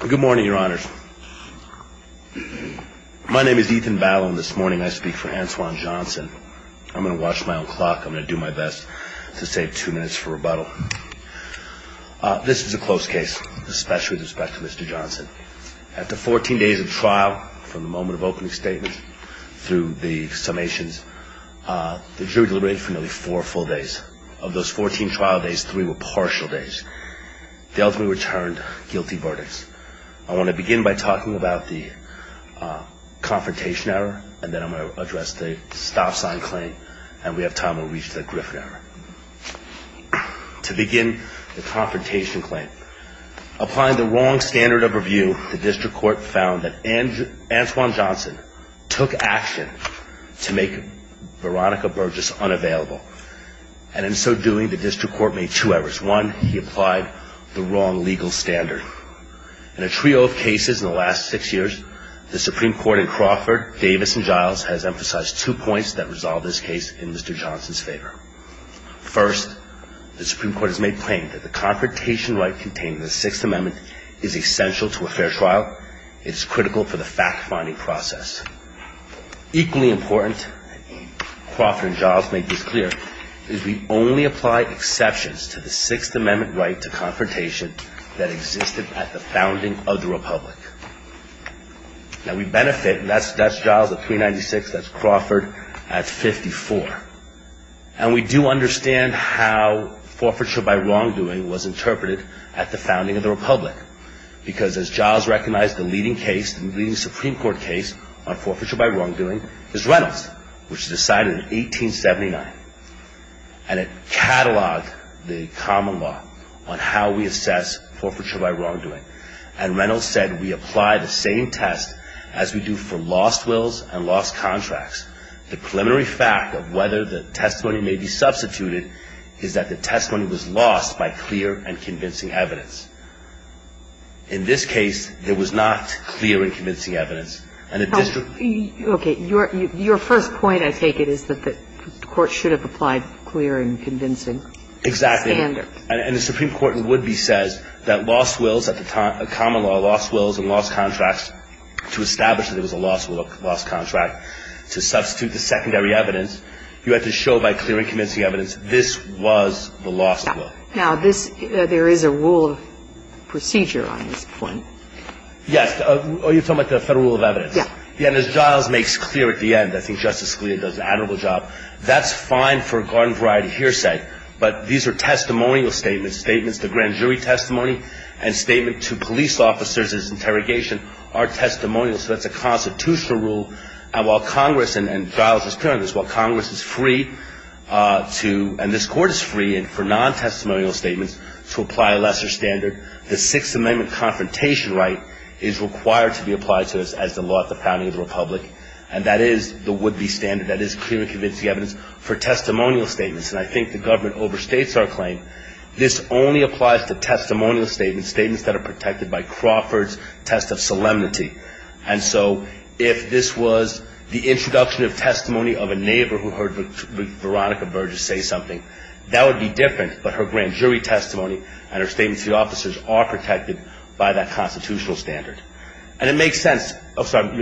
Good morning, your honors. My name is Ethan Ballon. This morning I speak for Antoine Johnson. I'm going to watch my own clock. I'm going to do my best to save two minutes for rebuttal. This is a close case, especially with respect to Mr. Johnson. After 14 days of trial from the moment of opening statement through the summations, the jury deliberated for nearly four full days. Of those 14 trial days, three were partial days. They ultimately returned guilty verdicts. I want to begin by talking about the confrontation error, and then I'm going to address the stop sign claim, and we have time to reach the Griffin error. To begin the confrontation claim, applying the wrong standard of review, the district court found that Antoine Johnson took action to make Veronica Burgess unavailable, and in so doing, the district court made two errors. In case one, he applied the wrong legal standard. In a trio of cases in the last six years, the Supreme Court in Crawford, Davis, and Giles has emphasized two points that resolve this case in Mr. Johnson's favor. First, the Supreme Court has made plain that the confrontation right contained in the Sixth Amendment is essential to a fair trial. It is critical for the fact-finding process. Equally important, Crawford and Giles make this clear, is we only apply exceptions to the Sixth Amendment right to confrontation that existed at the founding of the Republic. Now, we benefit, and that's Giles at 396, that's Crawford at 54, and we do understand how forfeiture by wrongdoing was interpreted at the founding of the Republic, because as Giles recognized, the leading case, the leading Supreme Court case on forfeiture by wrongdoing is Reynolds, which was decided in 1879, and it cataloged the common law on how we assess forfeiture by wrongdoing. And Reynolds said, we apply the same test as we do for lost wills and lost contracts. The preliminary fact of whether the testimony may be substituted is that the testimony was lost by clear and convincing evidence. In this case, there was not clear and convincing evidence, and the district ---- Okay. Your first point, I take it, is that the Court should have applied clear and convincing standards. Exactly. And the Supreme Court in Woodby says that lost wills at the time, common law, lost wills and lost contracts, to establish that it was a lost will, lost contract, to substitute the secondary evidence, you have to show by clear and convincing evidence this was the lost will. Now, this ---- there is a rule of procedure on this point. Yes. Oh, you're talking about the Federal Rule of Evidence. Yes. And as Giles makes clear at the end, I think Justice Scalia does an admirable job, that's fine for garden-variety hearsay, but these are testimonial statements. Statements to grand jury testimony and statement to police officers as interrogation are testimonial, so that's a constitutional rule, and while Congress, and Giles was clear on this, while Congress is free to, and this Court is free for non-testimonial statements to apply a lesser standard, the Sixth Amendment confrontation right is required to be applied to us as the law at the founding of the Republic, and that is the Woodby standard, that is clear and convincing evidence for testimonial statements, and I think the government overstates our claim. This only applies to testimonial statements, statements that are protected by Crawford's test of solemnity. And so if this was the introduction of testimony of a neighbor who heard Veronica Burgess say something, that would be different, but her grand jury testimony and her statement to the officers are protected by that constitutional standard. And it makes sense. Oh, sorry.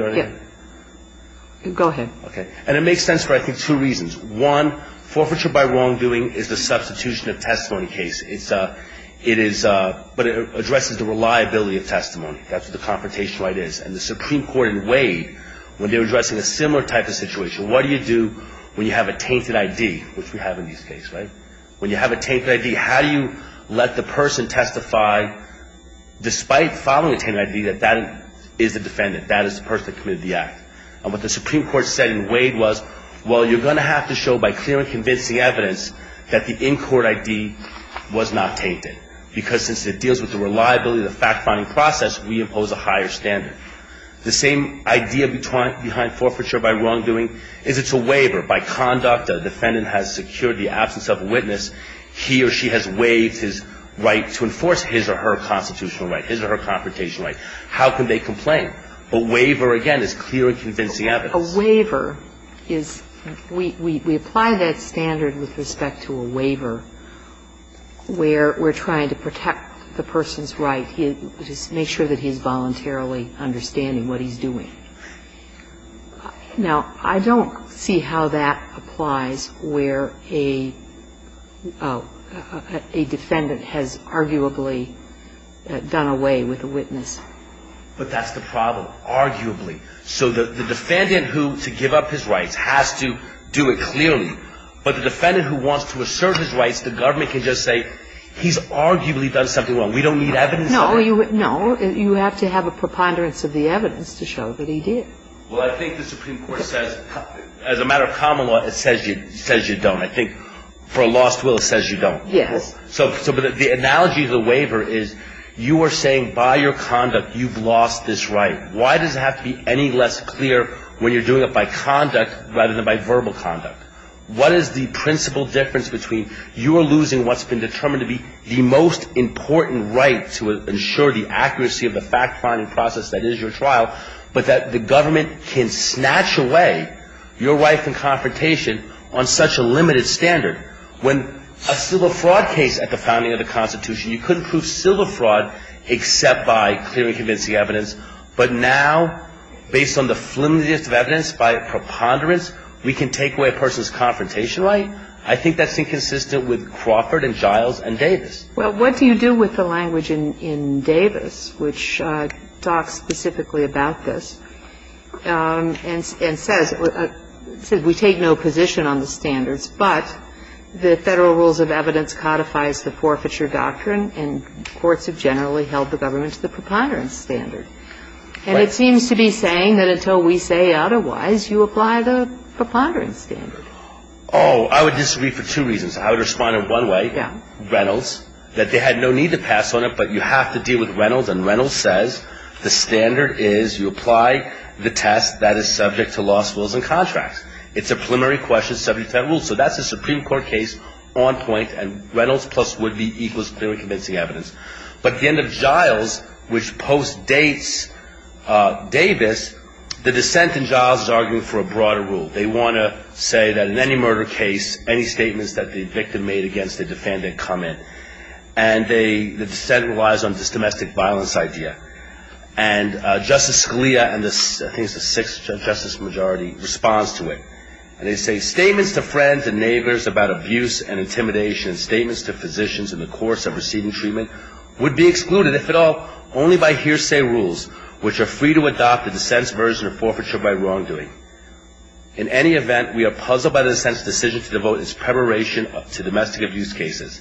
Go ahead. Okay. And it makes sense for, I think, two reasons. One, forfeiture by wrongdoing is the substitution of testimony case. It is, but it addresses the reliability of testimony. That's what the confrontation right is. And the Supreme Court in Wade, when they're addressing a similar type of situation, what do you do when you have a tainted ID, which we have in these cases, right? When you have a tainted ID, how do you let the person testify, despite following a tainted ID, that that is the defendant, that is the person that committed the act? And what the Supreme Court said in Wade was, well, you're going to have to show by clear and convincing evidence that the in-court ID was not tainted, because since it deals with the reliability of the fact-finding process, we impose a higher standard. The same idea behind forfeiture by wrongdoing is it's a waiver. By conduct, the defendant has secured the absence of a witness. He or she has waived his right to enforce his or her constitutional right, his or her confrontation right. How can they complain? A waiver, again, is clear and convincing evidence. A waiver is we apply that standard with respect to a waiver where we're trying to protect the person's right. Just make sure that he's voluntarily understanding what he's doing. Now, I don't see how that applies where a defendant has arguably done away with a witness. But that's the problem, arguably. So the defendant who, to give up his rights, has to do it clearly. But the defendant who wants to assert his rights, the government can just say, he's arguably done something wrong. We don't need evidence of it. No, you have to have a preponderance of the evidence to show that he did. Well, I think the Supreme Court says, as a matter of common law, it says you don't. I think for a lost will, it says you don't. Yes. So the analogy of the waiver is you are saying by your conduct you've lost this right. Why does it have to be any less clear when you're doing it by conduct rather than by verbal conduct? What is the principal difference between you are losing what's been determined to be the most important right to ensure the accuracy of the fact-finding process that is your trial, but that the government can snatch away your right from confrontation on such a limited standard? When a civil fraud case at the founding of the Constitution, you couldn't prove civil fraud except by clearly convincing evidence. But now, based on the flimsiest of evidence, by preponderance, we can take away a person's confrontation right? I think that's inconsistent with Crawford and Giles and Davis. Well, what do you do with the language in Davis which talks specifically about this and says we take no position on the standards, but the Federal Rules of Evidence codifies the forfeiture doctrine and courts have generally held the government to the preponderance standard. And it seems to be saying that until we say otherwise, you apply the preponderance standard. Oh, I would disagree for two reasons. I would respond in one way, Reynolds, that they had no need to pass on it, but you have to deal with Reynolds. And Reynolds says the standard is you apply the test that is subject to lost wills and contracts. It's a preliminary question subject to Federal Rules. So that's a Supreme Court case on point and Reynolds plus Woodley equals clearly convincing evidence. But at the end of Giles, which postdates Davis, the dissent in Giles is arguing for a broader rule. They want to say that in any murder case, any statements that the victim made against the defendant come in. And the dissent relies on this domestic violence idea. And Justice Scalia and I think it's the sixth justice majority responds to it. And they say statements to friends and neighbors about abuse and intimidation, statements to physicians in the course of receiving treatment would be excluded if at all only by hearsay rules, which are free to adopt a dissent's version of forfeiture by wrongdoing. In any event, we are puzzled by the dissent's decision to devote its preparation to domestic abuse cases.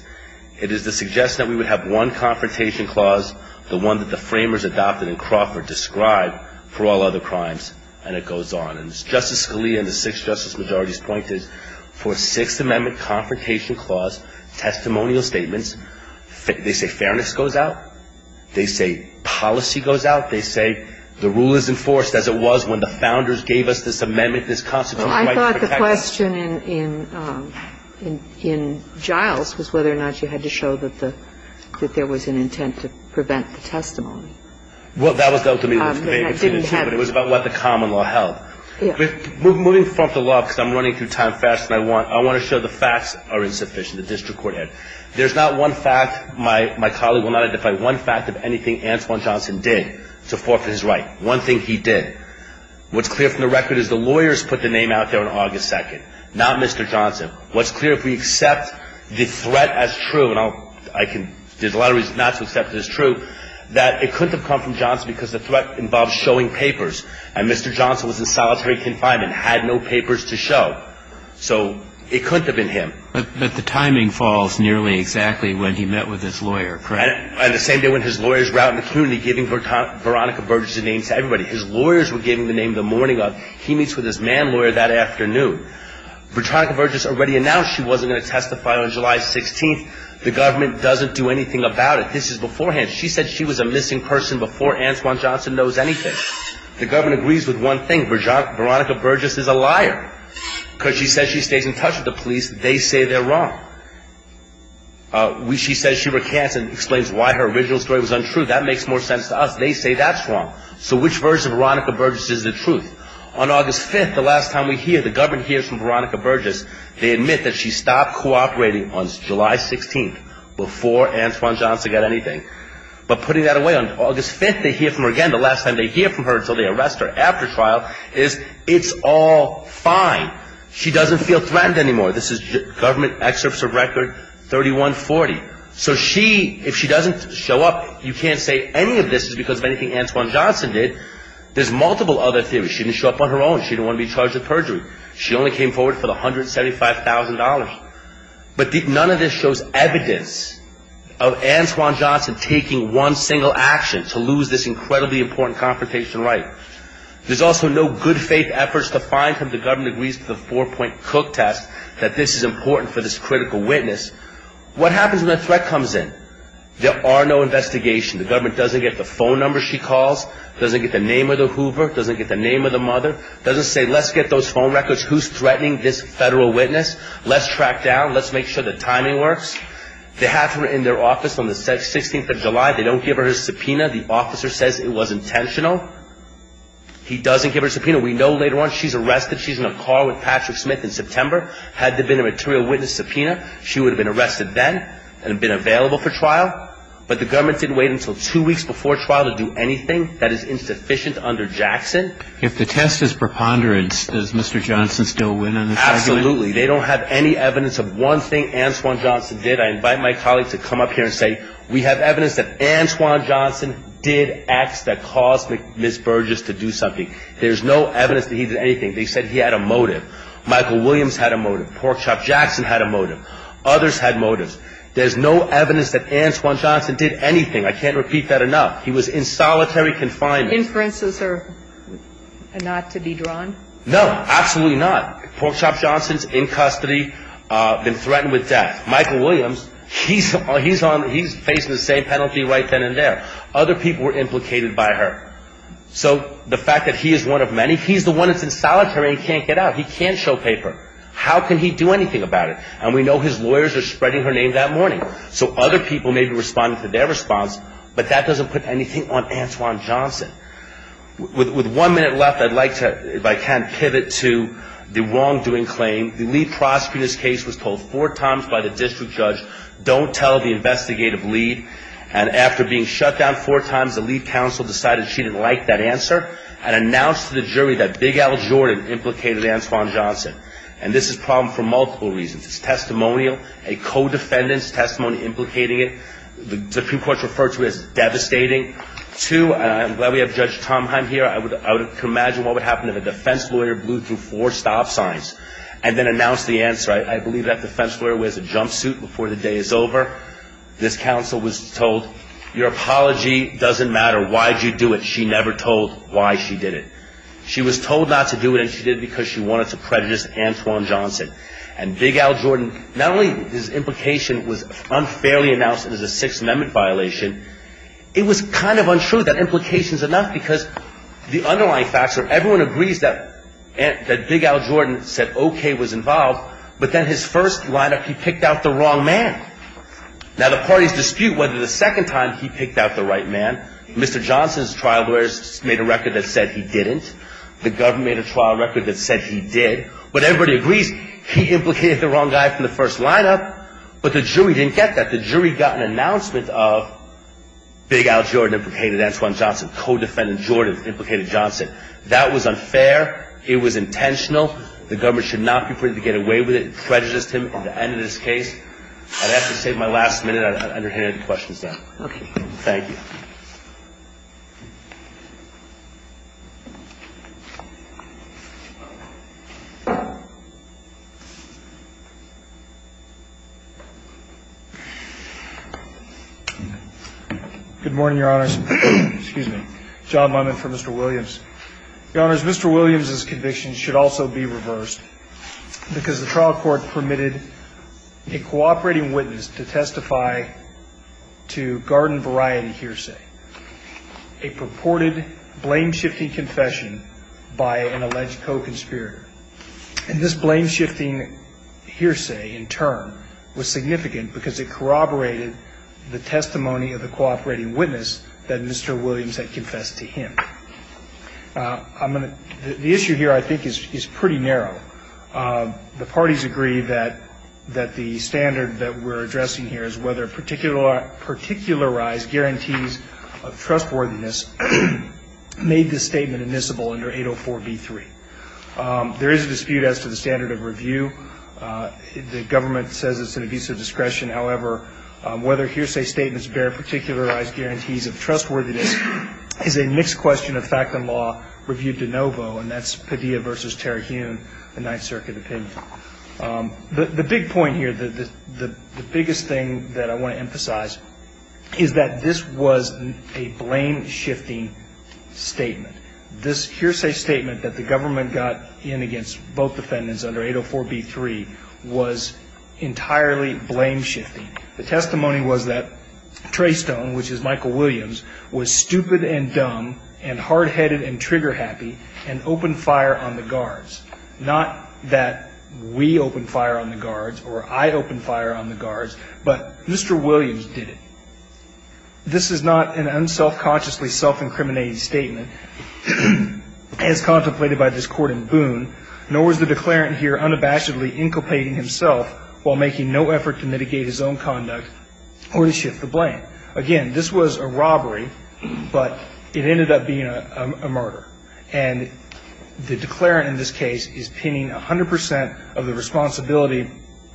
It is the suggestion that we would have one confrontation clause, the one that the framers adopted in Crawford, described for all other crimes, and it goes on. And as Justice Scalia and the sixth justice majority's point is, for a Sixth Amendment confrontation clause, testimonial statements, they say fairness goes out. They say policy goes out. They say the rule is enforced as it was when the founders gave us this amendment, this Constitution. Kagan. I thought the question in Giles was whether or not you had to show that there was an intent to prevent the testimony. Well, that was dealt to me with debate between the two, but it was about what the common law held. Yes. Moving from the law, because I'm running through time faster than I want, I want to show the facts are insufficient, the district court had. There's not one fact my colleague will not identify, one fact of anything Antwon Johnson did to forfeit his right, one thing he did. What's clear from the record is the lawyers put the name out there on August 2nd, not Mr. Johnson. What's clear, if we accept the threat as true, and I'll – I can – there's a lot of reasons not to accept it as true, that it couldn't have come from Johnson because the threat involved showing papers, and Mr. Johnson was in solitary confinement, had no papers to show. So it couldn't have been him. But the timing falls nearly exactly when he met with his lawyer, correct? And the same day when his lawyers were out in the community giving Veronica Burgess a name to everybody. His lawyers were giving the name the morning of. He meets with his man lawyer that afternoon. Veronica Burgess already announced she wasn't going to testify on July 16th. The government doesn't do anything about it. This is beforehand. She said she was a missing person before Antwon Johnson knows anything. The government agrees with one thing. Veronica Burgess is a liar because she says she stays in touch with the police. They say they're wrong. She says she recants and explains why her original story was untrue. That makes more sense to us. They say that's wrong. So which version of Veronica Burgess is the truth? On August 5th, the last time we hear, the government hears from Veronica Burgess, they admit that she stopped cooperating on July 16th before Antwon Johnson got anything. But putting that away on August 5th, they hear from her again. The last time they hear from her until they arrest her after trial is it's all fine. She doesn't feel threatened anymore. This is government excerpts of record 3140. So she, if she doesn't show up, you can't say any of this is because of anything Antwon Johnson did. There's multiple other theories. She didn't show up on her own. She didn't want to be charged with perjury. She only came forward for the $175,000. But none of this shows evidence of Antwon Johnson taking one single action to lose this incredibly important confrontation right. There's also no good faith efforts to find him. The government agrees to the four-point Cook test that this is important for this critical witness. What happens when a threat comes in? There are no investigations. The government doesn't get the phone number she calls. Doesn't get the name of the Hoover. Doesn't get the name of the mother. Doesn't say let's get those phone records. Who's threatening this federal witness? Let's track down. Let's make sure the timing works. They have her in their office on the 16th of July. They don't give her a subpoena. The officer says it was intentional. He doesn't give her a subpoena. We know later on she's arrested. She's in a car with Patrick Smith in September. Had there been a material witness subpoena, she would have been arrested then and been available for trial. But the government didn't wait until two weeks before trial to do anything that is insufficient under Jackson. If the test is preponderance, does Mr. Johnson still win on this argument? Absolutely. They don't have any evidence of one thing Antwon Johnson did. I invite my colleagues to come up here and say we have evidence that Antwon Johnson did acts that caused Ms. Burgess to do something. There's no evidence that he did anything. They said he had a motive. Michael Williams had a motive. Porkchop Jackson had a motive. Others had motives. There's no evidence that Antwon Johnson did anything. I can't repeat that enough. He was in solitary confinement. Inferences are not to be drawn? No, absolutely not. Porkchop Johnson's in custody, been threatened with death. Michael Williams, he's facing the same penalty right then and there. Other people were implicated by her. So the fact that he is one of many, he's the one that's in solitary and can't get out. He can't show paper. How can he do anything about it? And we know his lawyers are spreading her name that morning. So other people may be responding to their response, but that doesn't put anything on Antwon Johnson. With one minute left, I'd like to, if I can, pivot to the wrongdoing claim. The lead prosecutor in this case was told four times by the district judge, don't tell the investigative lead. And after being shut down four times, the lead counsel decided she didn't like that answer and announced to the jury that Big Al Jordan implicated Antwon Johnson. And this is a problem for multiple reasons. It's testimonial, a co-defendant's testimony implicating it. The Supreme Court referred to it as devastating. Two, and I'm glad we have Judge Tomheim here. I would imagine what would happen if a defense lawyer blew through four stop signs and then announced the answer. I believe that defense lawyer wears a jumpsuit before the day is over. This counsel was told, your apology doesn't matter. Why did you do it? She never told why she did it. She was told not to do it, and she did it because she wanted to prejudice Antwon Johnson. And Big Al Jordan, not only his implication was unfairly announced as a Sixth Amendment violation, it was kind of untrue that implication is enough because the underlying facts are Everyone agrees that Big Al Jordan said okay was involved, but then his first lineup, he picked out the wrong man. Now, the parties dispute whether the second time he picked out the right man. Mr. Johnson's trial lawyers made a record that said he didn't. The government made a trial record that said he did. But everybody agrees he implicated the wrong guy from the first lineup, but the jury didn't get that. The jury got an announcement of Big Al Jordan implicated Antwon Johnson. Co-defendant Jordan implicated Johnson. That was unfair. It was intentional. The government should not be afraid to get away with it and prejudice him at the end of this case. I'd have to say at my last minute I'd underhand the questions now. Okay. Thank you. Good morning, Your Honors. Excuse me. John Monman for Mr. Williams. Your Honors, Mr. Williams's conviction should also be reversed because the trial court permitted a cooperating witness to testify to garden variety hearsay, a purported blame-shifting confession by an alleged co-conspirator. And this blame-shifting hearsay in turn was significant because it corroborated the testimony of the cooperating witness that Mr. Williams had confessed to him. The issue here I think is pretty narrow. The parties agree that the standard that we're addressing here is whether particularized guarantees of trustworthiness made this statement admissible under 804B3. There is a dispute as to the standard of review. The government says it's an abuse of discretion. However, whether hearsay statements bear particularized guarantees of trustworthiness is a mixed question of fact and law reviewed de novo, and that's Padilla v. Terry Hewn, the Ninth Circuit opinion. The big point here, the biggest thing that I want to emphasize is that this was a blame-shifting statement. This hearsay statement that the government got in against both defendants under 804B3 was entirely blame-shifting. The testimony was that Treystone, which is Michael Williams, was stupid and dumb and hard-headed and trigger-happy and opened fire on the guards. Not that we opened fire on the guards or I opened fire on the guards, but Mr. Williams did it. This is not an unselfconsciously self-incriminating statement as contemplated by this court in Boone, nor is the declarant here unabashedly inculpating himself while making no effort to mitigate his own conduct or to shift the blame. Again, this was a robbery, but it ended up being a murder. And the declarant in this case is pinning 100 percent of the responsibility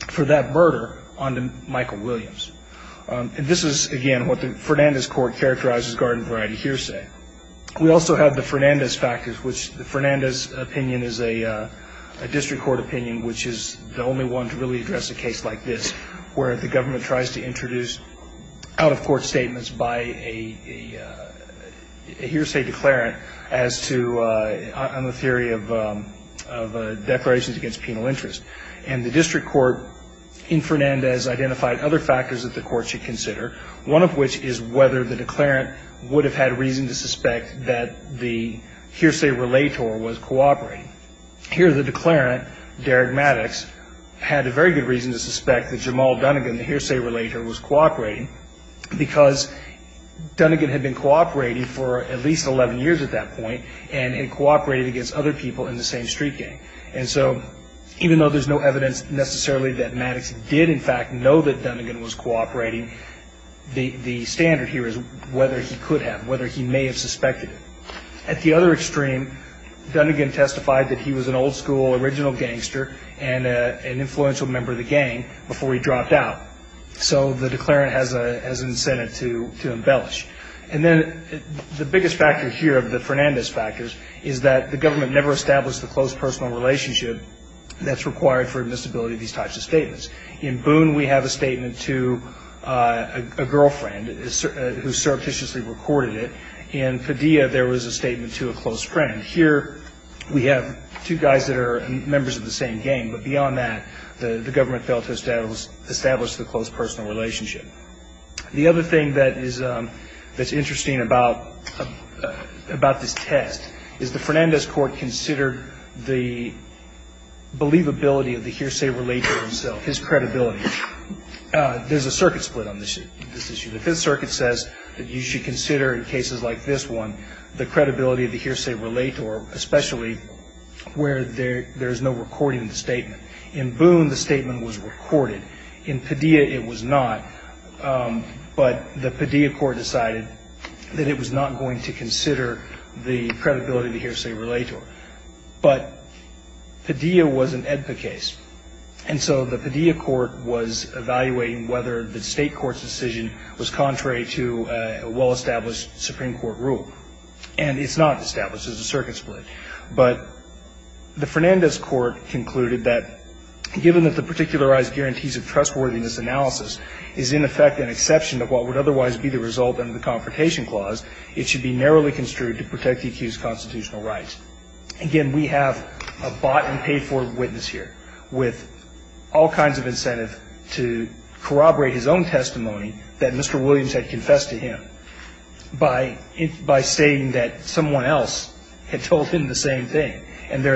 for that murder onto Michael Williams. And this is, again, what the Fernandez court characterized as garden-variety hearsay. We also have the Fernandez factors, which the Fernandez opinion is a district court opinion, which is the only one to really address a case like this, where the government tries to introduce out-of-court statements by a hearsay declarant as to the theory of declarations against penal interest. And the district court in Fernandez identified other factors that the court should consider, one of which is whether the declarant would have had reason to suspect that the hearsay relator was cooperating. Here, the declarant, Derek Maddox, had a very good reason to suspect that Jamal Dunnigan, the hearsay relator, was cooperating, because Dunnigan had been cooperating for at least 11 years at that point and had cooperated against other people in the same street gang. And so even though there's no evidence necessarily that Maddox did, in fact, know that Dunnigan was cooperating, the standard here is whether he could have, whether he may have suspected it. At the other extreme, Dunnigan testified that he was an old-school original gangster and an influential member of the gang before he dropped out. So the declarant has an incentive to embellish. And then the biggest factor here of the Fernandez factors is that the government never established the close personal relationship that's required for admissibility of these types of statements. In Boone, we have a statement to a girlfriend who surreptitiously recorded it. In Padilla, there was a statement to a close friend. Here, we have two guys that are members of the same gang. But beyond that, the government failed to establish the close personal relationship. The other thing that is interesting about this test is the Fernandez court considered the believability of the hearsay relator himself, his credibility. There's a circuit split on this issue. The Fifth Circuit says that you should consider in cases like this one the credibility of the hearsay relator, especially where there is no recording of the statement. In Boone, the statement was recorded. In Padilla, it was not. But the Padilla court decided that it was not going to consider the credibility of the hearsay relator. But Padilla was an AEDPA case. And so the Padilla court was evaluating whether the State court's decision was contrary to a well-established Supreme Court rule. And it's not established. There's a circuit split. But the Fernandez court concluded that given that the particularized guarantees of trustworthiness analysis is in effect an exception of what would otherwise be the result under the Confrontation Clause, it should be narrowly construed to protect the accused's constitutional rights. Again, we have a bought-and-paid-for witness here. was brought to court with all kinds of incentive to corroborate his own testimony that Mr. Williams had confessed to him by saying that someone else had told him the same thing. And in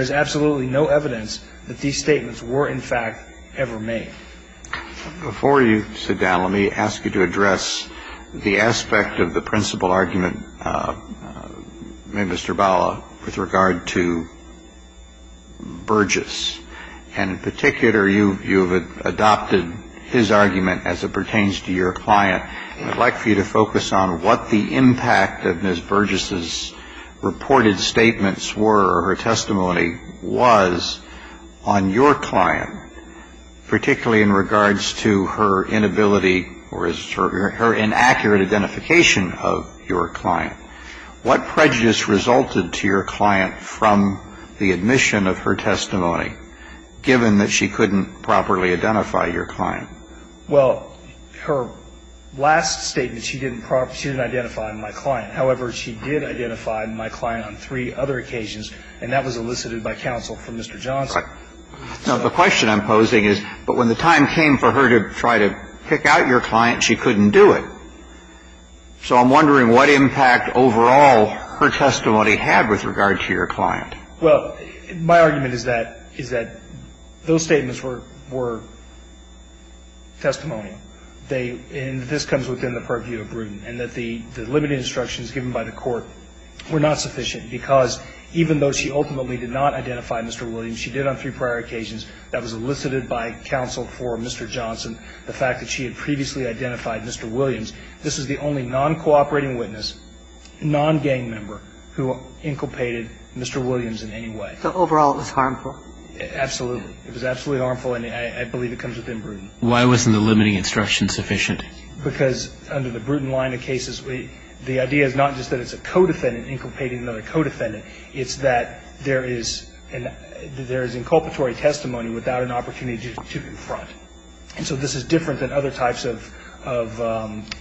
particular, you've adopted his argument as it pertains to your client. I'd like for you to focus on what the impact of Ms. Burgess's reported statements were or her testimony was on your client, particularly in regards to her inability or her inaccurate identification of your client. What prejudice resulted to your client from the admission of her testimony, given that she couldn't properly identify your client? Well, her last statement, she didn't identify my client. However, she did identify my client on three other occasions, and that was elicited by counsel from Mr. Johnson. Now, the question I'm posing is, but when the time came for her to try to pick out your client, she couldn't do it. So I'm wondering what impact overall her testimony had with regard to your client. Well, my argument is that those statements were testimonial. They – and this comes within the purview of Bruton, and that the limited instructions given by the Court were not sufficient, because even though she ultimately did not identify Mr. Williams, she did on three prior occasions, that was elicited by counsel for Mr. Johnson, the fact that she had previously identified Mr. Williams. This is the only non-cooperating witness, non-gang member, who inculpated Mr. Williams in any way. So overall, it was harmful? Absolutely. It was absolutely harmful, and I believe it comes within Bruton. Why wasn't the limiting instruction sufficient? Because under the Bruton line of cases, the idea is not just that it's a co-defendant inculpating another co-defendant. It's that there is inculpatory testimony without an opportunity to confront. And so this is different than other types of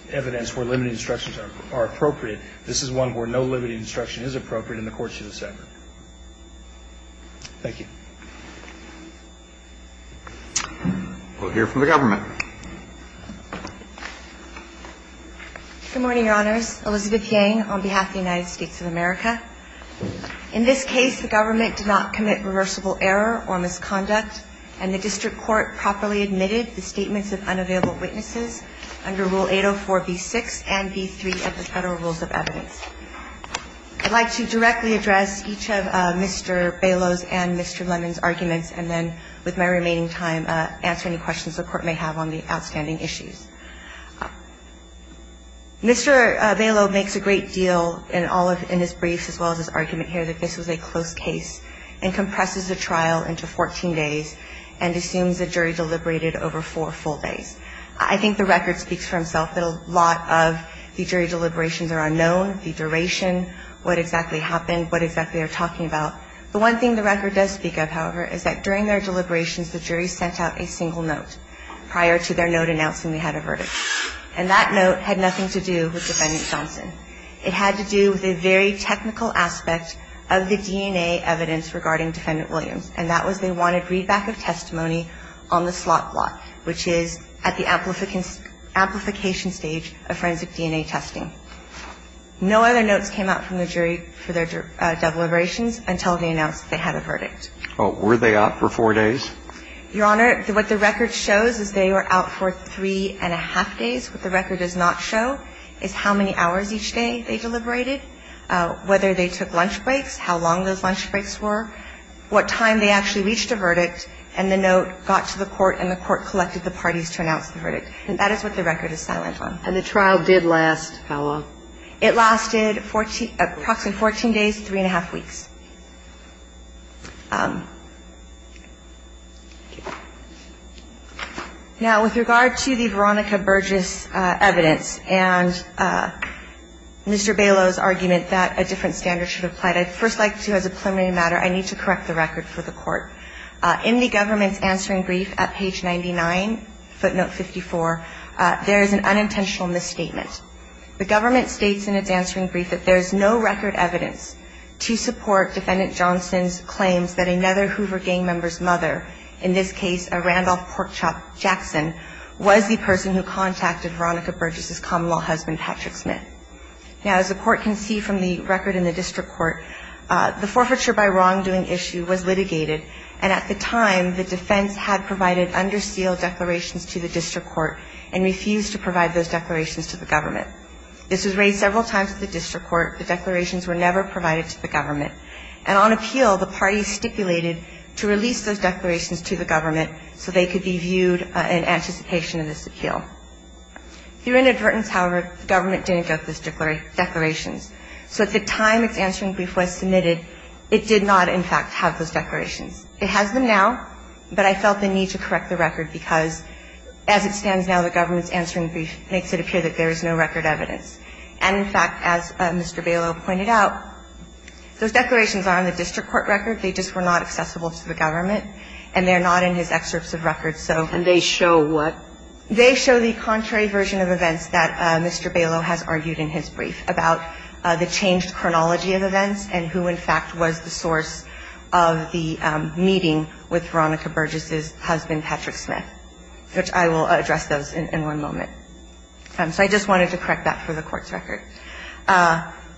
evidence where limiting instructions are appropriate. This is one where no limiting instruction is appropriate in the courts of the Senate. Thank you. We'll hear from the government. Good morning, Your Honors. Elizabeth Yang on behalf of the United States of America. In this case, the government did not commit reversible error or misconduct, and the district court properly admitted the statements of unavailable witnesses under Rule 804B6 and B3 of the Federal Rules of Evidence. I'd like to directly address each of Mr. Bailow's and Mr. Lemon's arguments, and then, with my remaining time, answer any questions the Court may have on the outstanding issues. Mr. Bailow makes a great deal in all of his briefs, as well as his argument here, that this was a close case and compresses the trial into 14 days and assumes the jury deliberated over four full days. I think the record speaks for itself that a lot of the jury deliberations are unknown, the duration, what exactly happened, what exactly they're talking about. The one thing the record does speak of, however, is that during their deliberations the jury sent out a single note prior to their note announcing they had a verdict. And that note had nothing to do with Defendant Johnson. It had to do with a very technical aspect of the DNA evidence regarding Defendant Williams, and that was they wanted readback of testimony on the slot block, which is at the amplification stage of forensic DNA testing. No other notes came out from the jury for their deliberations until they announced they had a verdict. Were they out for four days? Your Honor, what the record shows is they were out for three and a half days. What the record does not show is how many hours each day they deliberated, whether they took lunch breaks, how long those lunch breaks were, what time they actually reached a verdict, and the note got to the court and the court collected the parties to announce the verdict. And that is what the record is silent on. And the trial did last how long? It lasted approximately 14 days, three and a half weeks. Now, with regard to the Veronica Burgess evidence and Mr. Bailo's argument that a different standard should apply, I'd first like to, as a preliminary matter, I need to correct the record for the Court. In the government's answering brief at page 99, footnote 54, there is an unintentional misstatement. The government states in its answering brief that there is no record evidence to support Defendant Johnson's claims that another Hoover gang member's mother, in this case a Randolph Porkchop Jackson, was the person who contacted Veronica Burgess's common-law husband, Patrick Smith. Now, as the Court can see from the record in the district court, the forfeiture by wrongdoing issue was litigated. And at the time, the defense had provided under seal declarations to the district court and refused to provide those declarations to the government. This was raised several times at the district court. The declarations were never provided to the government. And on appeal, the parties stipulated to release those declarations to the government so they could be viewed in anticipation of this appeal. Through inadvertence, however, the government didn't get those declarations. So at the time its answering brief was submitted, it did not, in fact, have those declarations. It has them now, but I felt the need to correct the record because, as it stands now, the government's answering brief makes it appear that there is no record evidence. And, in fact, as Mr. Bailo pointed out, those declarations are on the district court record. They just were not accessible to the government. And they're not in his excerpts of records. So they show what? They show the contrary version of events that Mr. Bailo has argued in his brief about the changed chronology of events and who, in fact, was the source of the meeting with Veronica Burgess's husband, Patrick Smith, which I will address those in one moment. So I just wanted to correct that for the Court's record.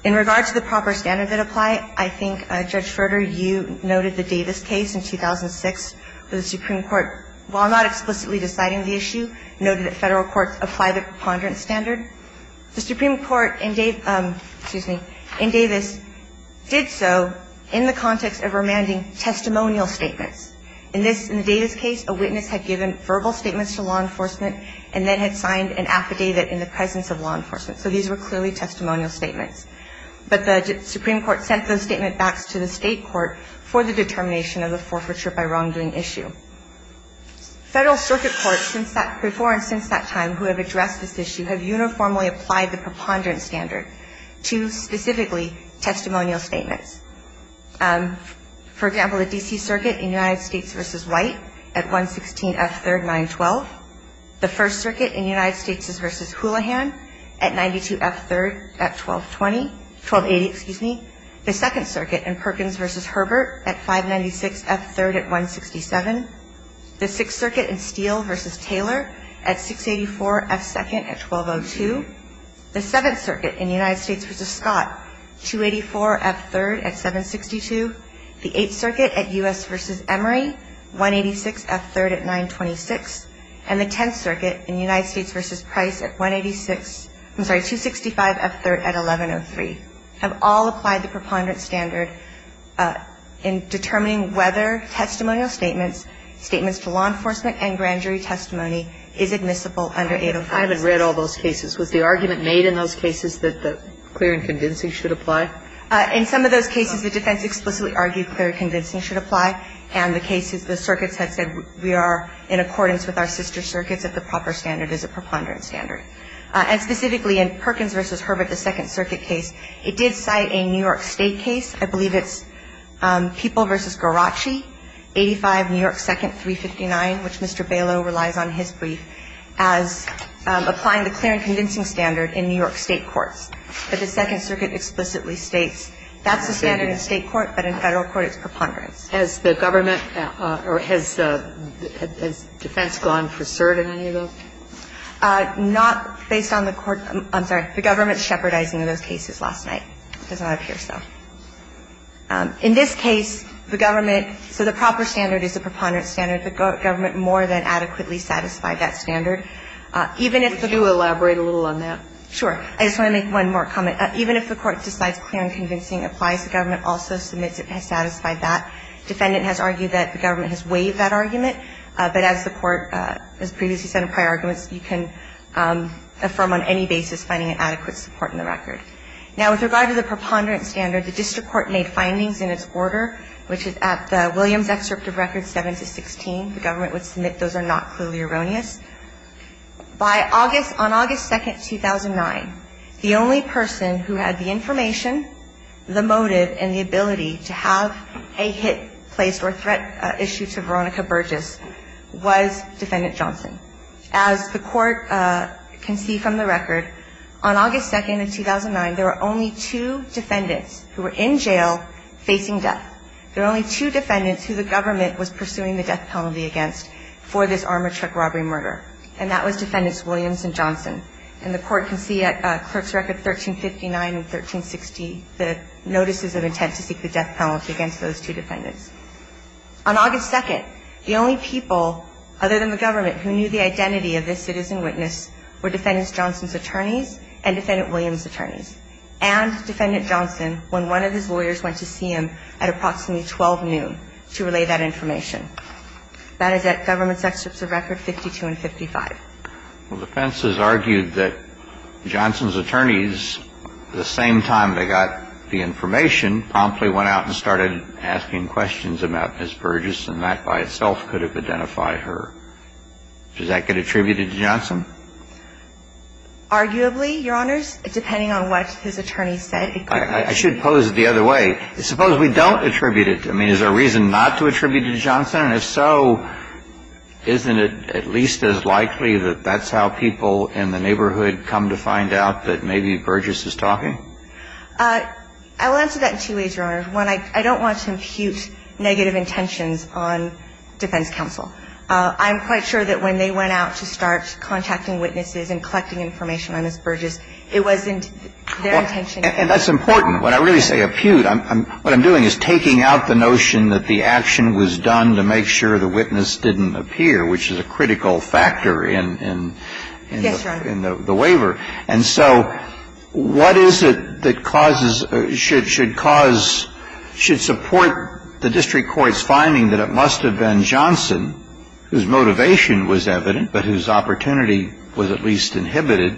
In regard to the proper standard that apply, I think, Judge Schroeder, you noted the Davis case in 2006 where the Supreme Court, while not explicitly deciding the issue, noted that Federal courts apply the preponderance standard. The Supreme Court in Davis did so in the context of remanding testimonial statements. In this, in the Davis case, a witness had given verbal statements to law enforcement and then had signed an affidavit in the presence of law enforcement. So these were clearly testimonial statements. But the Supreme Court sent those statements back to the state court for the determination of the forfeiture by wrongdoing issue. Federal circuit courts before and since that time who have addressed this issue have uniformly applied the preponderance standard to, specifically, testimonial statements. For example, the D.C. Circuit in United States v. White at 116 F. 3rd, 912. The 1st Circuit in United States v. Houlihan at 92 F. 3rd at 1220, 1280, excuse me. The 2nd Circuit in Perkins v. Herbert at 596 F. 3rd at 167. The 6th Circuit in Steele v. Taylor at 684 F. 2nd at 1202. The 7th Circuit in United States v. Scott, 284 F. 3rd at 762. The 8th Circuit at U.S. v. Emory, 186 F. 3rd at 926. And the 10th Circuit in United States v. Price at 186, I'm sorry, 265 F. 3rd at 1103. Have all applied the preponderance standard in determining whether testimonial statements, statements to law enforcement and grand jury testimony is admissible under 805. I haven't read all those cases. Was the argument made in those cases that the clear and convincing should apply? In some of those cases, the defense explicitly argued clear and convincing should apply. And the cases, the circuits had said we are in accordance with our sister circuits if the proper standard is a preponderance standard. And specifically in Perkins v. Herbert, the 2nd Circuit case, it did cite a New York State case. I believe it's People v. Garacci, 85 New York 2nd, 359, which Mr. Bailow relies on his brief as applying the clear and convincing standard in New York State courts. But the 2nd Circuit explicitly states that's the standard in State court, but in Federal court it's preponderance. Has the government or has defense gone for cert in any of those? Not based on the court. I'm sorry. The government's shepherdizing in those cases last night. It does not appear so. In this case, the government, so the proper standard is a preponderance standard. The government more than adequately satisfied that standard. Even if the do elaborate a little on that. Sure. I just want to make one more comment. Even if the court decides clear and convincing applies, the government also submits it has satisfied that. Defendant has argued that the government has waived that argument. But as the court has previously said in prior arguments, you can affirm on any basis finding an adequate support in the record. Now, with regard to the preponderance standard, the district court made findings in its order, which is at the Williams excerpt of records 7 to 16. The government would submit those are not clearly erroneous. By August, on August 2, 2009, the only person who had the information, the motive and the ability to have a hit placed or threat issued to Veronica Burgess was Defendant Johnson. As the court can see from the record, on August 2, 2009, there were only two defendants who were in jail facing death. There were only two defendants who the government was pursuing the death penalty against for this armored truck robbery murder. And that was Defendants Williams and Johnson. And the court can see at clerk's record 1359 and 1360, the notices of intent to seek the death penalty against those two defendants. On August 2, the only people, other than the government, who knew the identity of this citizen witness were Defendant Johnson's attorneys and Defendant Williams' attorneys. And Defendant Johnson, when one of his lawyers went to see him at approximately 12 noon to relay that information. That is at government's excerpts of record 52 and 55. Well, defense has argued that Johnson's attorneys, the same time they got the information, promptly went out and started asking questions about Ms. Burgess and that by itself could have identified her. Does that get attributed to Johnson? Arguably, Your Honors, depending on what his attorneys said. I should pose it the other way. Suppose we don't attribute it. I mean, is there a reason not to attribute it to Johnson? And if so, isn't it at least as likely that that's how people in the neighborhood come to find out that maybe Burgess is talking? I will answer that in two ways, Your Honors. One, I don't want to impute negative intentions on defense counsel. I'm quite sure that when they went out to start contacting witnesses and collecting information on Ms. Burgess, it wasn't their intention. And that's important. When I really say impute, what I'm doing is taking out the notion that the action was done to make sure the witness didn't appear, which is a critical factor in the waiver. And so what is it that causes, should cause, should support the district court's finding that it must have been Johnson, whose motivation was evident, but whose opportunity was at least inhibited,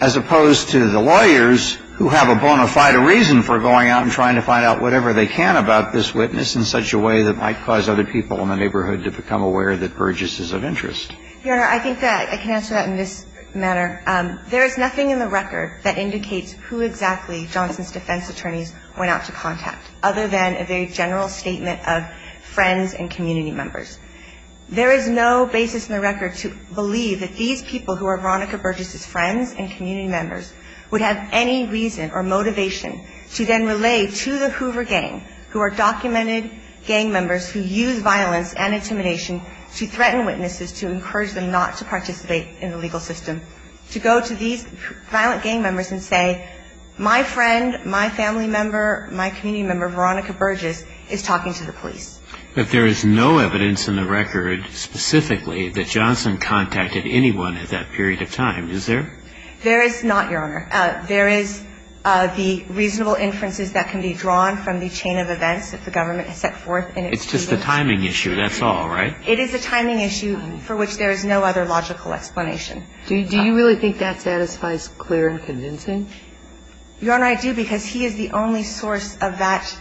as opposed to the lawyers who have a bona fide reason for going out and trying to find out whatever they can about this witness in such a way that might cause other people in the neighborhood to become aware that Burgess is of interest? Your Honor, I think that I can answer that in this manner. There is nothing in the record that indicates who exactly Johnson's defense attorneys went out to contact, other than a very general statement of friends and community members. And that's why I think it's important to have the motivation to then relay to the Hoover gang, who are documented gang members who use violence and intimidation to threaten witnesses, to encourage them not to participate in the legal system, to go to these violent gang members and say, my friend, my family member, my community member, Veronica Burgess, is talking to the police. But there is no evidence in the record specifically that Johnson contacted anyone at that period of time, is there? There is not, Your Honor. There is the reasonable inferences that can be drawn from the chain of events that the government has set forth. It's just a timing issue, that's all, right? It is a timing issue for which there is no other logical explanation. Do you really think that satisfies clear and convincing? Your Honor, I do, because he is the only source of that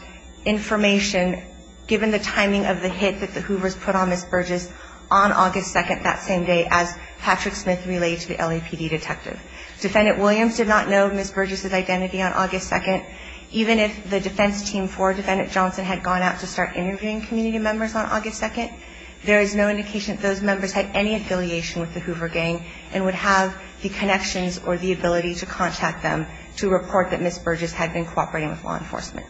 information, given the timing of the hit that the Hoovers put on Ms. Burgess on August 2nd, that same day, as Patrick Smith relayed to the LAPD detective. Defendant Williams did not know Ms. Burgess' identity on August 2nd. Even if the defense team for Defendant Johnson had gone out to start interviewing community members on August 2nd, there is no indication that those members had any affiliation with the Hoover gang and would have the connections or the ability to contact them to report that Ms. Burgess had been cooperating with law enforcement.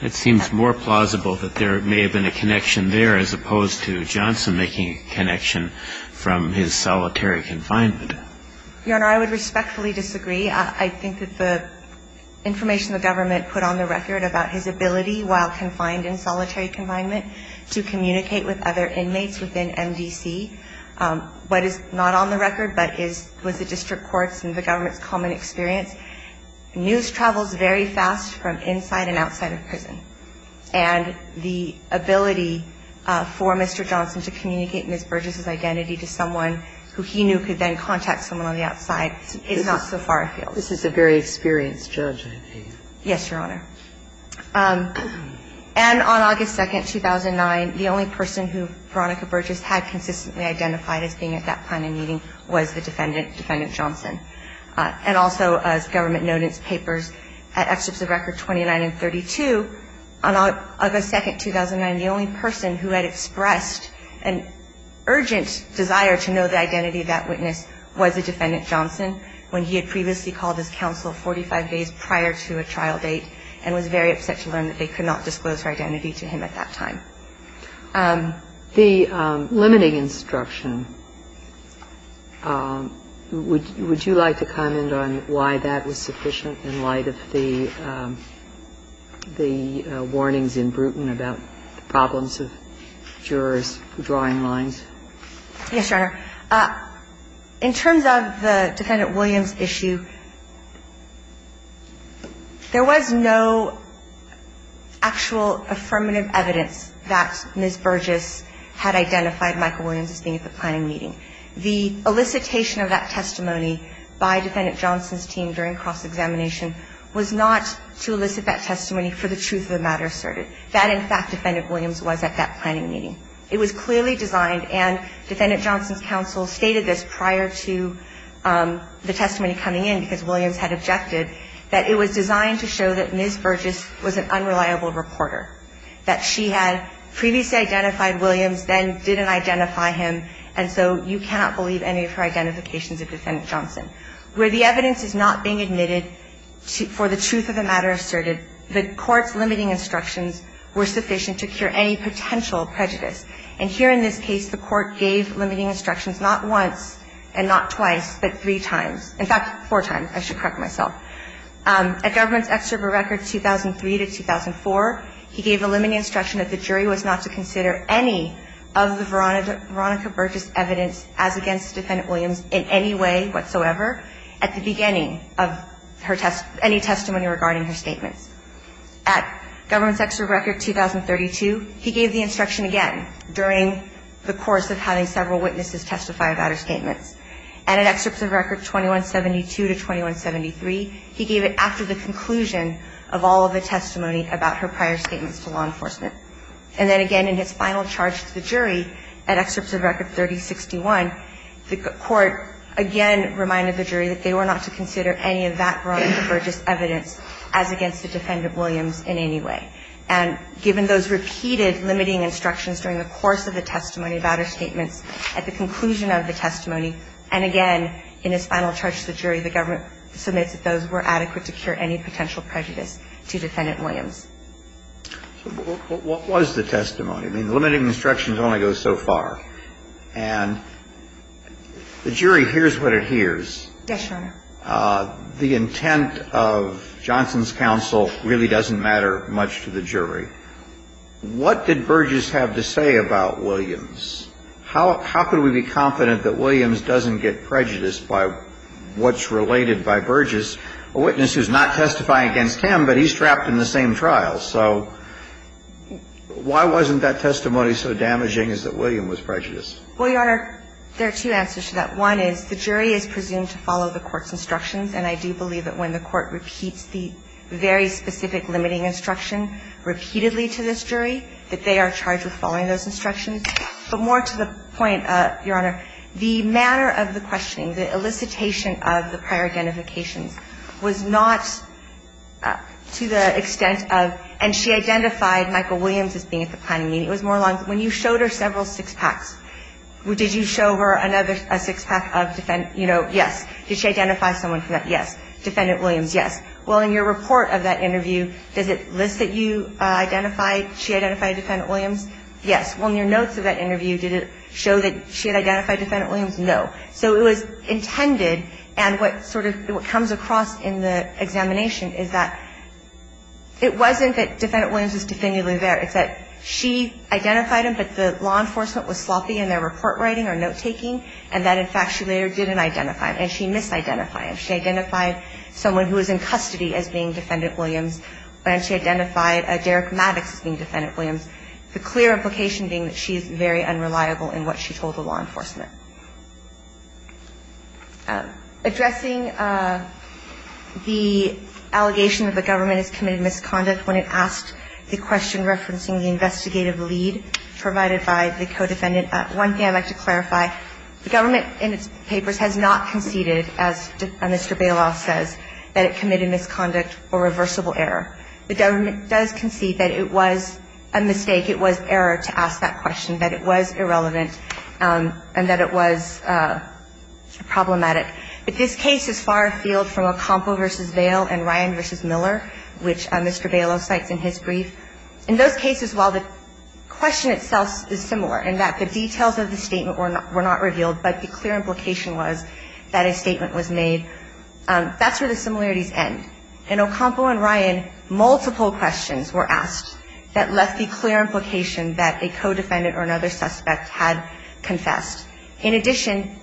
It seems more plausible that there may have been a connection there, as opposed to Johnson making a connection from his solitary confinement. Your Honor, I would respectfully disagree. I think that the information the government put on the record about his ability, while confined in solitary confinement, to communicate with other inmates within MDC, what is not on the record but is what the district courts and the government's common experience, news travels very fast from inside and outside of prison. And the ability for Mr. Johnson to communicate Ms. Burgess' identity to someone who he knew could then contact someone on the outside is not so far afield. This is a very experienced judge, I believe. Yes, Your Honor. And on August 2nd, 2009, the only person who Veronica Burgess had consistently identified as being at that planning meeting was the defendant, Defendant Johnson. And also, as government noted in its papers, at Excerpts of Record 29 and 32, the only person who was able to know the identity of that witness was the defendant Johnson, when he had previously called his counsel 45 days prior to a trial date and was very upset to learn that they could not disclose her identity to him at that time. The limiting instruction, would you like to comment on why that was sufficient in light of the warnings in Bruton about the problems of jurors drawing lines? Yes, Your Honor. In terms of the Defendant Williams issue, there was no actual affirmative evidence that Ms. Burgess had identified Michael Williams as being at the planning meeting. The elicitation of that testimony by Defendant Johnson's team during cross examination was not to elicit that testimony for the truth of the matter asserted, that, in fact, Defendant Williams was at that planning meeting. It was clearly designed, and Defendant Johnson's counsel stated this prior to the testimony coming in, because Williams had objected, that it was designed to show that Ms. Burgess was an unreliable reporter, that she had previously identified Williams, then didn't identify him, and so you cannot believe any of her identifications of Defendant Johnson. Where the evidence is not being admitted for the truth of the matter asserted, the Court's limiting instructions were sufficient to cure any potential prejudice. And here in this case, the Court gave limiting instructions not once and not twice, but three times. In fact, four times. I should correct myself. At Government's Excerpt of Records 2003 to 2004, he gave a limiting instruction that the jury was not to consider any of the Veronica Burgess evidence as against Defendant Williams in any way whatsoever at the beginning of her any testimony regarding her statements. At Government's Excerpt of Records 2032, he gave the instruction again during the course of having several witnesses testify about her statements. And at Excerpts of Records 2172 to 2173, he gave it after the conclusion of all of the testimony about her prior statements to law enforcement. And then again in his final charge to the jury at Excerpts of Records 3061, the Court again reminded the jury that they were not to consider any of that Veronica Burgess evidence as against the Defendant Williams in any way. And given those repeated limiting instructions during the course of the testimony about her statements, at the conclusion of the testimony, and again in his final charge to the jury, the Government submits that those were adequate to cure any potential prejudice to Defendant Williams. So what was the testimony? I mean, the limiting instructions only go so far. And the jury hears what it hears. Yes, Your Honor. The intent of Johnson's counsel really doesn't matter much to the jury. What did Burgess have to say about Williams? How could we be confident that Williams doesn't get prejudiced by what's related by Burgess, a witness who's not testifying against him, but he's trapped in the same trial? So why wasn't that testimony so damaging as that Williams was prejudiced? Well, Your Honor, there are two answers to that. One is the jury is presumed to follow the court's instructions. And I do believe that when the court repeats the very specific limiting instruction repeatedly to this jury, that they are charged with following those instructions. But more to the point, Your Honor, the manner of the questioning, the elicitation of the prior identifications was not to the extent of – and she identified Michael Williams as being at the planning meeting. It was more along – when you showed her several six-packs, did you show her another six-pack of – you know, yes. Did she identify someone from that? Yes. Defendant Williams, yes. Well, in your report of that interview, does it list that you identified – she identified Defendant Williams? Yes. Well, in your notes of that interview, did it show that she had identified Defendant Williams? No. So it was intended, and what sort of – what comes across in the examination is that it wasn't that Defendant Williams was definitively there. It's that she identified him, but the law enforcement was sloppy in their report writing or note-taking, and that, in fact, she later didn't identify him, and she misidentified him. She identified someone who was in custody as being Defendant Williams, and she identified Derek Maddox as being Defendant Williams, the clear implication being that she is very unreliable in what she told the law enforcement. Addressing the allegation that the government has committed misconduct when it asked the question referencing the investigative lead provided by the co-defendant, one thing I'd like to clarify, the government in its papers has not conceded, as Mr. Bailoff says, that it committed misconduct or reversible error. The government does concede that it was a mistake, it was error to ask that question, that it was irrelevant, and that it was problematic. But this case is far afield from Acampo v. Vail and Ryan v. Miller, which Mr. Bailoff cites in his brief. In those cases, while the question itself is similar, and that the details of the statement were not revealed, but the clear implication was that a statement was made, that's where the similarities end. In Acampo and Ryan, multiple questions were asked that left the clear implication that a co-defendant or another suspect had confessed. In addition,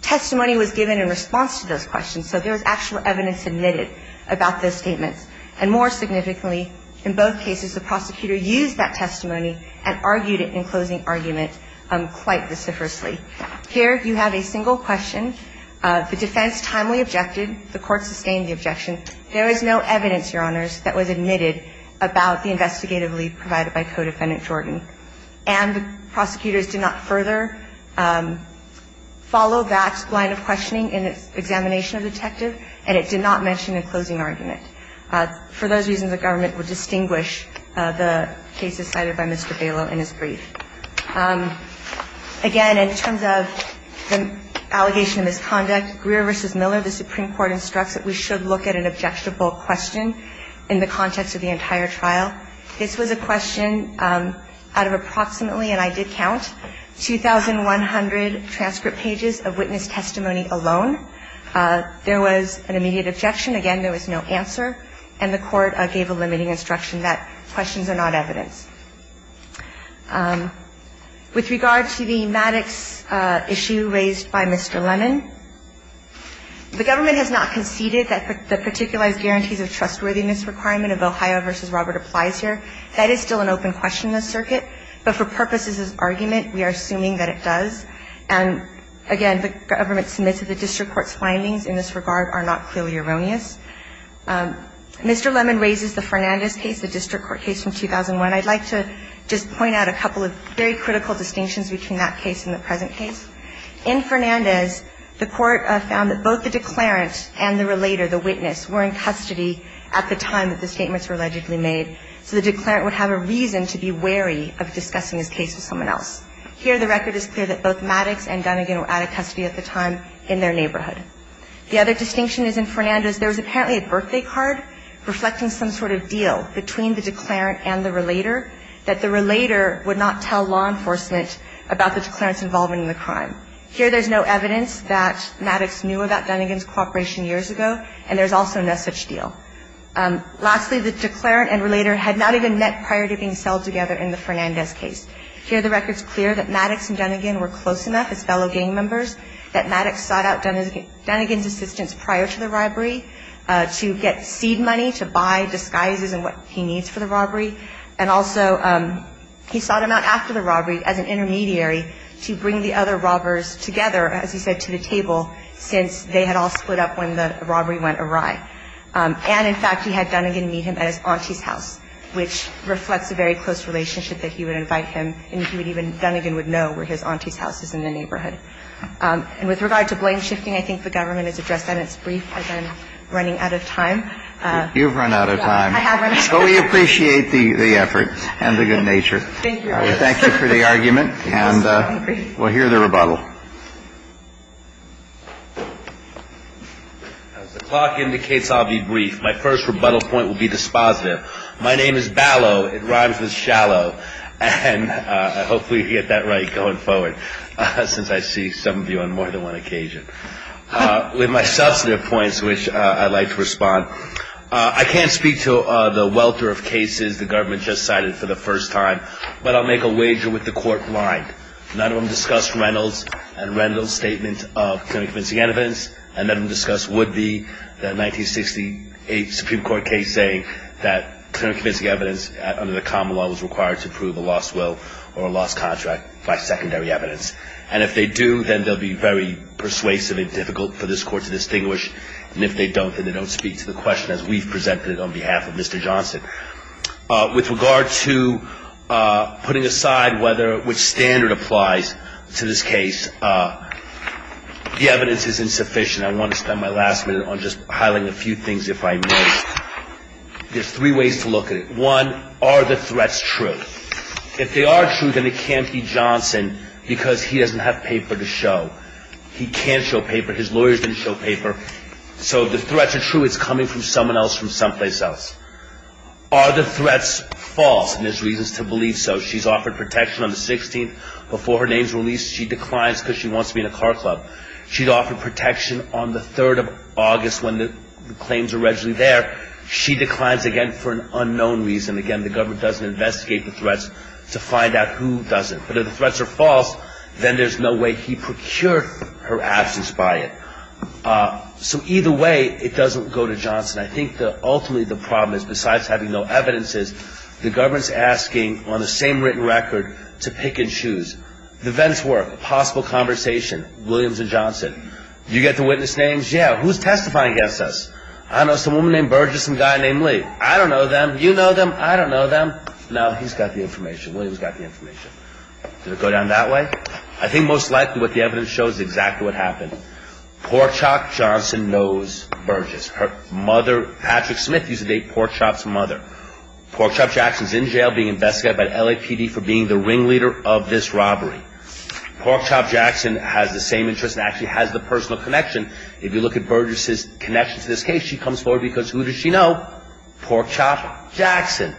testimony was given in response to those questions, so there was actual evidence admitted about those statements. And more significantly, in both cases the prosecutor used that testimony and argued it in closing argument quite vociferously. Here you have a single question. The defense timely objected. The court sustained the objection. There is no evidence, Your Honors, that was admitted about the investigative lead provided by Co-Defendant Jordan. And the prosecutors did not further follow that line of questioning in its examination of the detective, and it did not mention in closing argument. For those reasons, the government would distinguish the cases cited by Mr. Bailo in his brief. Again, in terms of the allegation of misconduct, Greer v. Miller, the Supreme Court, instructs that we should look at an objectable question in the context of the entire trial. This was a question out of approximately, and I did count, 2,100 transcript pages of witness testimony alone. There was an immediate objection. Again, there was no answer, and the court gave a limiting instruction that questions are not evidence. With regard to the Maddox issue raised by Mr. Lemon, the government has not conceded that the Particularized Guarantees of Trustworthiness requirement of Ohio v. Robert applies here. That is still an open question in the circuit, but for purposes of argument, we are assuming that it does. And again, the government submits that the district court's findings in this regard are not clearly erroneous. Mr. Lemon raises the Fernandez case, the district court case from 2001. I'd like to just point out a couple of very critical distinctions between that case and the present case. In Fernandez, the court found that both the declarant and the relator, the witness, were in custody at the time that the statements were allegedly made, so the declarant would have a reason to be wary of discussing his case with someone else. Here, the record is clear that both Maddox and Dunnigan were out of custody at the time in their neighborhood. The other distinction is in Fernandez, there was apparently a birthday card reflecting some sort of deal between the declarant and the relator that the relator would not tell law enforcement about the declarant's involvement in the crime. Here, there's no evidence that Maddox knew about Dunnigan's cooperation years ago, and there's also no such deal. Lastly, the declarant and relator had not even met prior to being held together in the Fernandez case. Here, the record's clear that Maddox and Dunnigan were close enough as fellow gang members that Maddox sought out Dunnigan's assistance prior to the robbery to get seed money to buy disguises and what he needs for the robbery, and also he sought him out after the robbery as an intermediary to bring the other robbers together, as he said, to the table, since they had all split up when the robbery went awry. And, in fact, he had Dunnigan meet him at his auntie's house, which reflects a very close relationship that he would invite him, and Dunnigan would even know where his auntie's house is in the neighborhood. And with regard to blame shifting, I think the government has addressed that in its brief, as I'm running out of time. You've run out of time. I have run out of time. But we appreciate the effort and the good nature. Thank you, Your Honor. Thank you for the argument, and we'll hear the rebuttal. As the clock indicates, I'll be brief. My first rebuttal point will be dispositive. My name is Ballot. It rhymes with shallow. And hopefully you get that right going forward, since I see some of you on more than one occasion. With my substantive points, which I'd like to respond, I can't speak to the welter of cases the government just cited for the first time, but I'll make a wager with the court blind. None of them discussed Reynolds and Reynolds' statement of clearly convincing evidence, and none of them discussed would-be, the 1968 Supreme Court case saying that clearly convincing evidence under the common law was required to prove a lost will or a lost contract by secondary evidence. And if they do, then they'll be very persuasive and difficult for this Court to distinguish. And if they don't, then they don't speak to the question as we've presented it on behalf of Mr. Johnson. With regard to putting aside which standard applies to this case, the evidence is insufficient. I want to spend my last minute on just highlighting a few things, if I may. There's three ways to look at it. One, are the threats true? If they are true, then it can't be Johnson, because he doesn't have paper to show. He can't show paper. His lawyers didn't show paper. So if the threats are true, it's coming from someone else from someplace else. Are the threats false? And there's reasons to believe so. She's offered protection on the 16th. Before her name's released, she declines because she wants to be in a car club. She's offered protection on the 3rd of August when the claims are regularly there. She declines again for an unknown reason. Again, the government doesn't investigate the threats to find out who does it. But if the threats are false, then there's no way he procured her absence by it. So either way, it doesn't go to Johnson. I think ultimately the problem is, besides having no evidence, is the government's asking on the same written record to pick and choose. The vents work. A possible conversation. Williams and Johnson. You get the witness names. Yeah, who's testifying against us? I know some woman named Burgess and a guy named Lee. I don't know them. You know them. I don't know them. No, he's got the information. Did it go down that way? I think most likely what the evidence shows is exactly what happened. Porkchop Johnson knows Burgess. Her mother, Patrick Smith, used to date Porkchop's mother. Porkchop Jackson's in jail being investigated by the LAPD for being the ringleader of this robbery. Porkchop Jackson has the same interest and actually has the personal connection. If you look at Burgess's connection to this case, she comes forward because who does she know? Porkchop Jackson.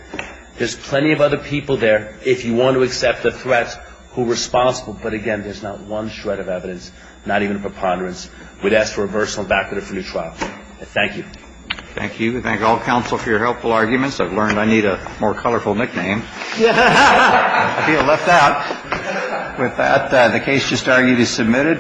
There's plenty of other people there if you want to accept the threats who are responsible, but again, there's not one shred of evidence, not even a preponderance. We'd ask for a personal background for the trial. Thank you. Thank you. We thank all counsel for your helpful arguments. I've learned I need a more colorful nickname. I feel left out. With that, the case just argued is submitted.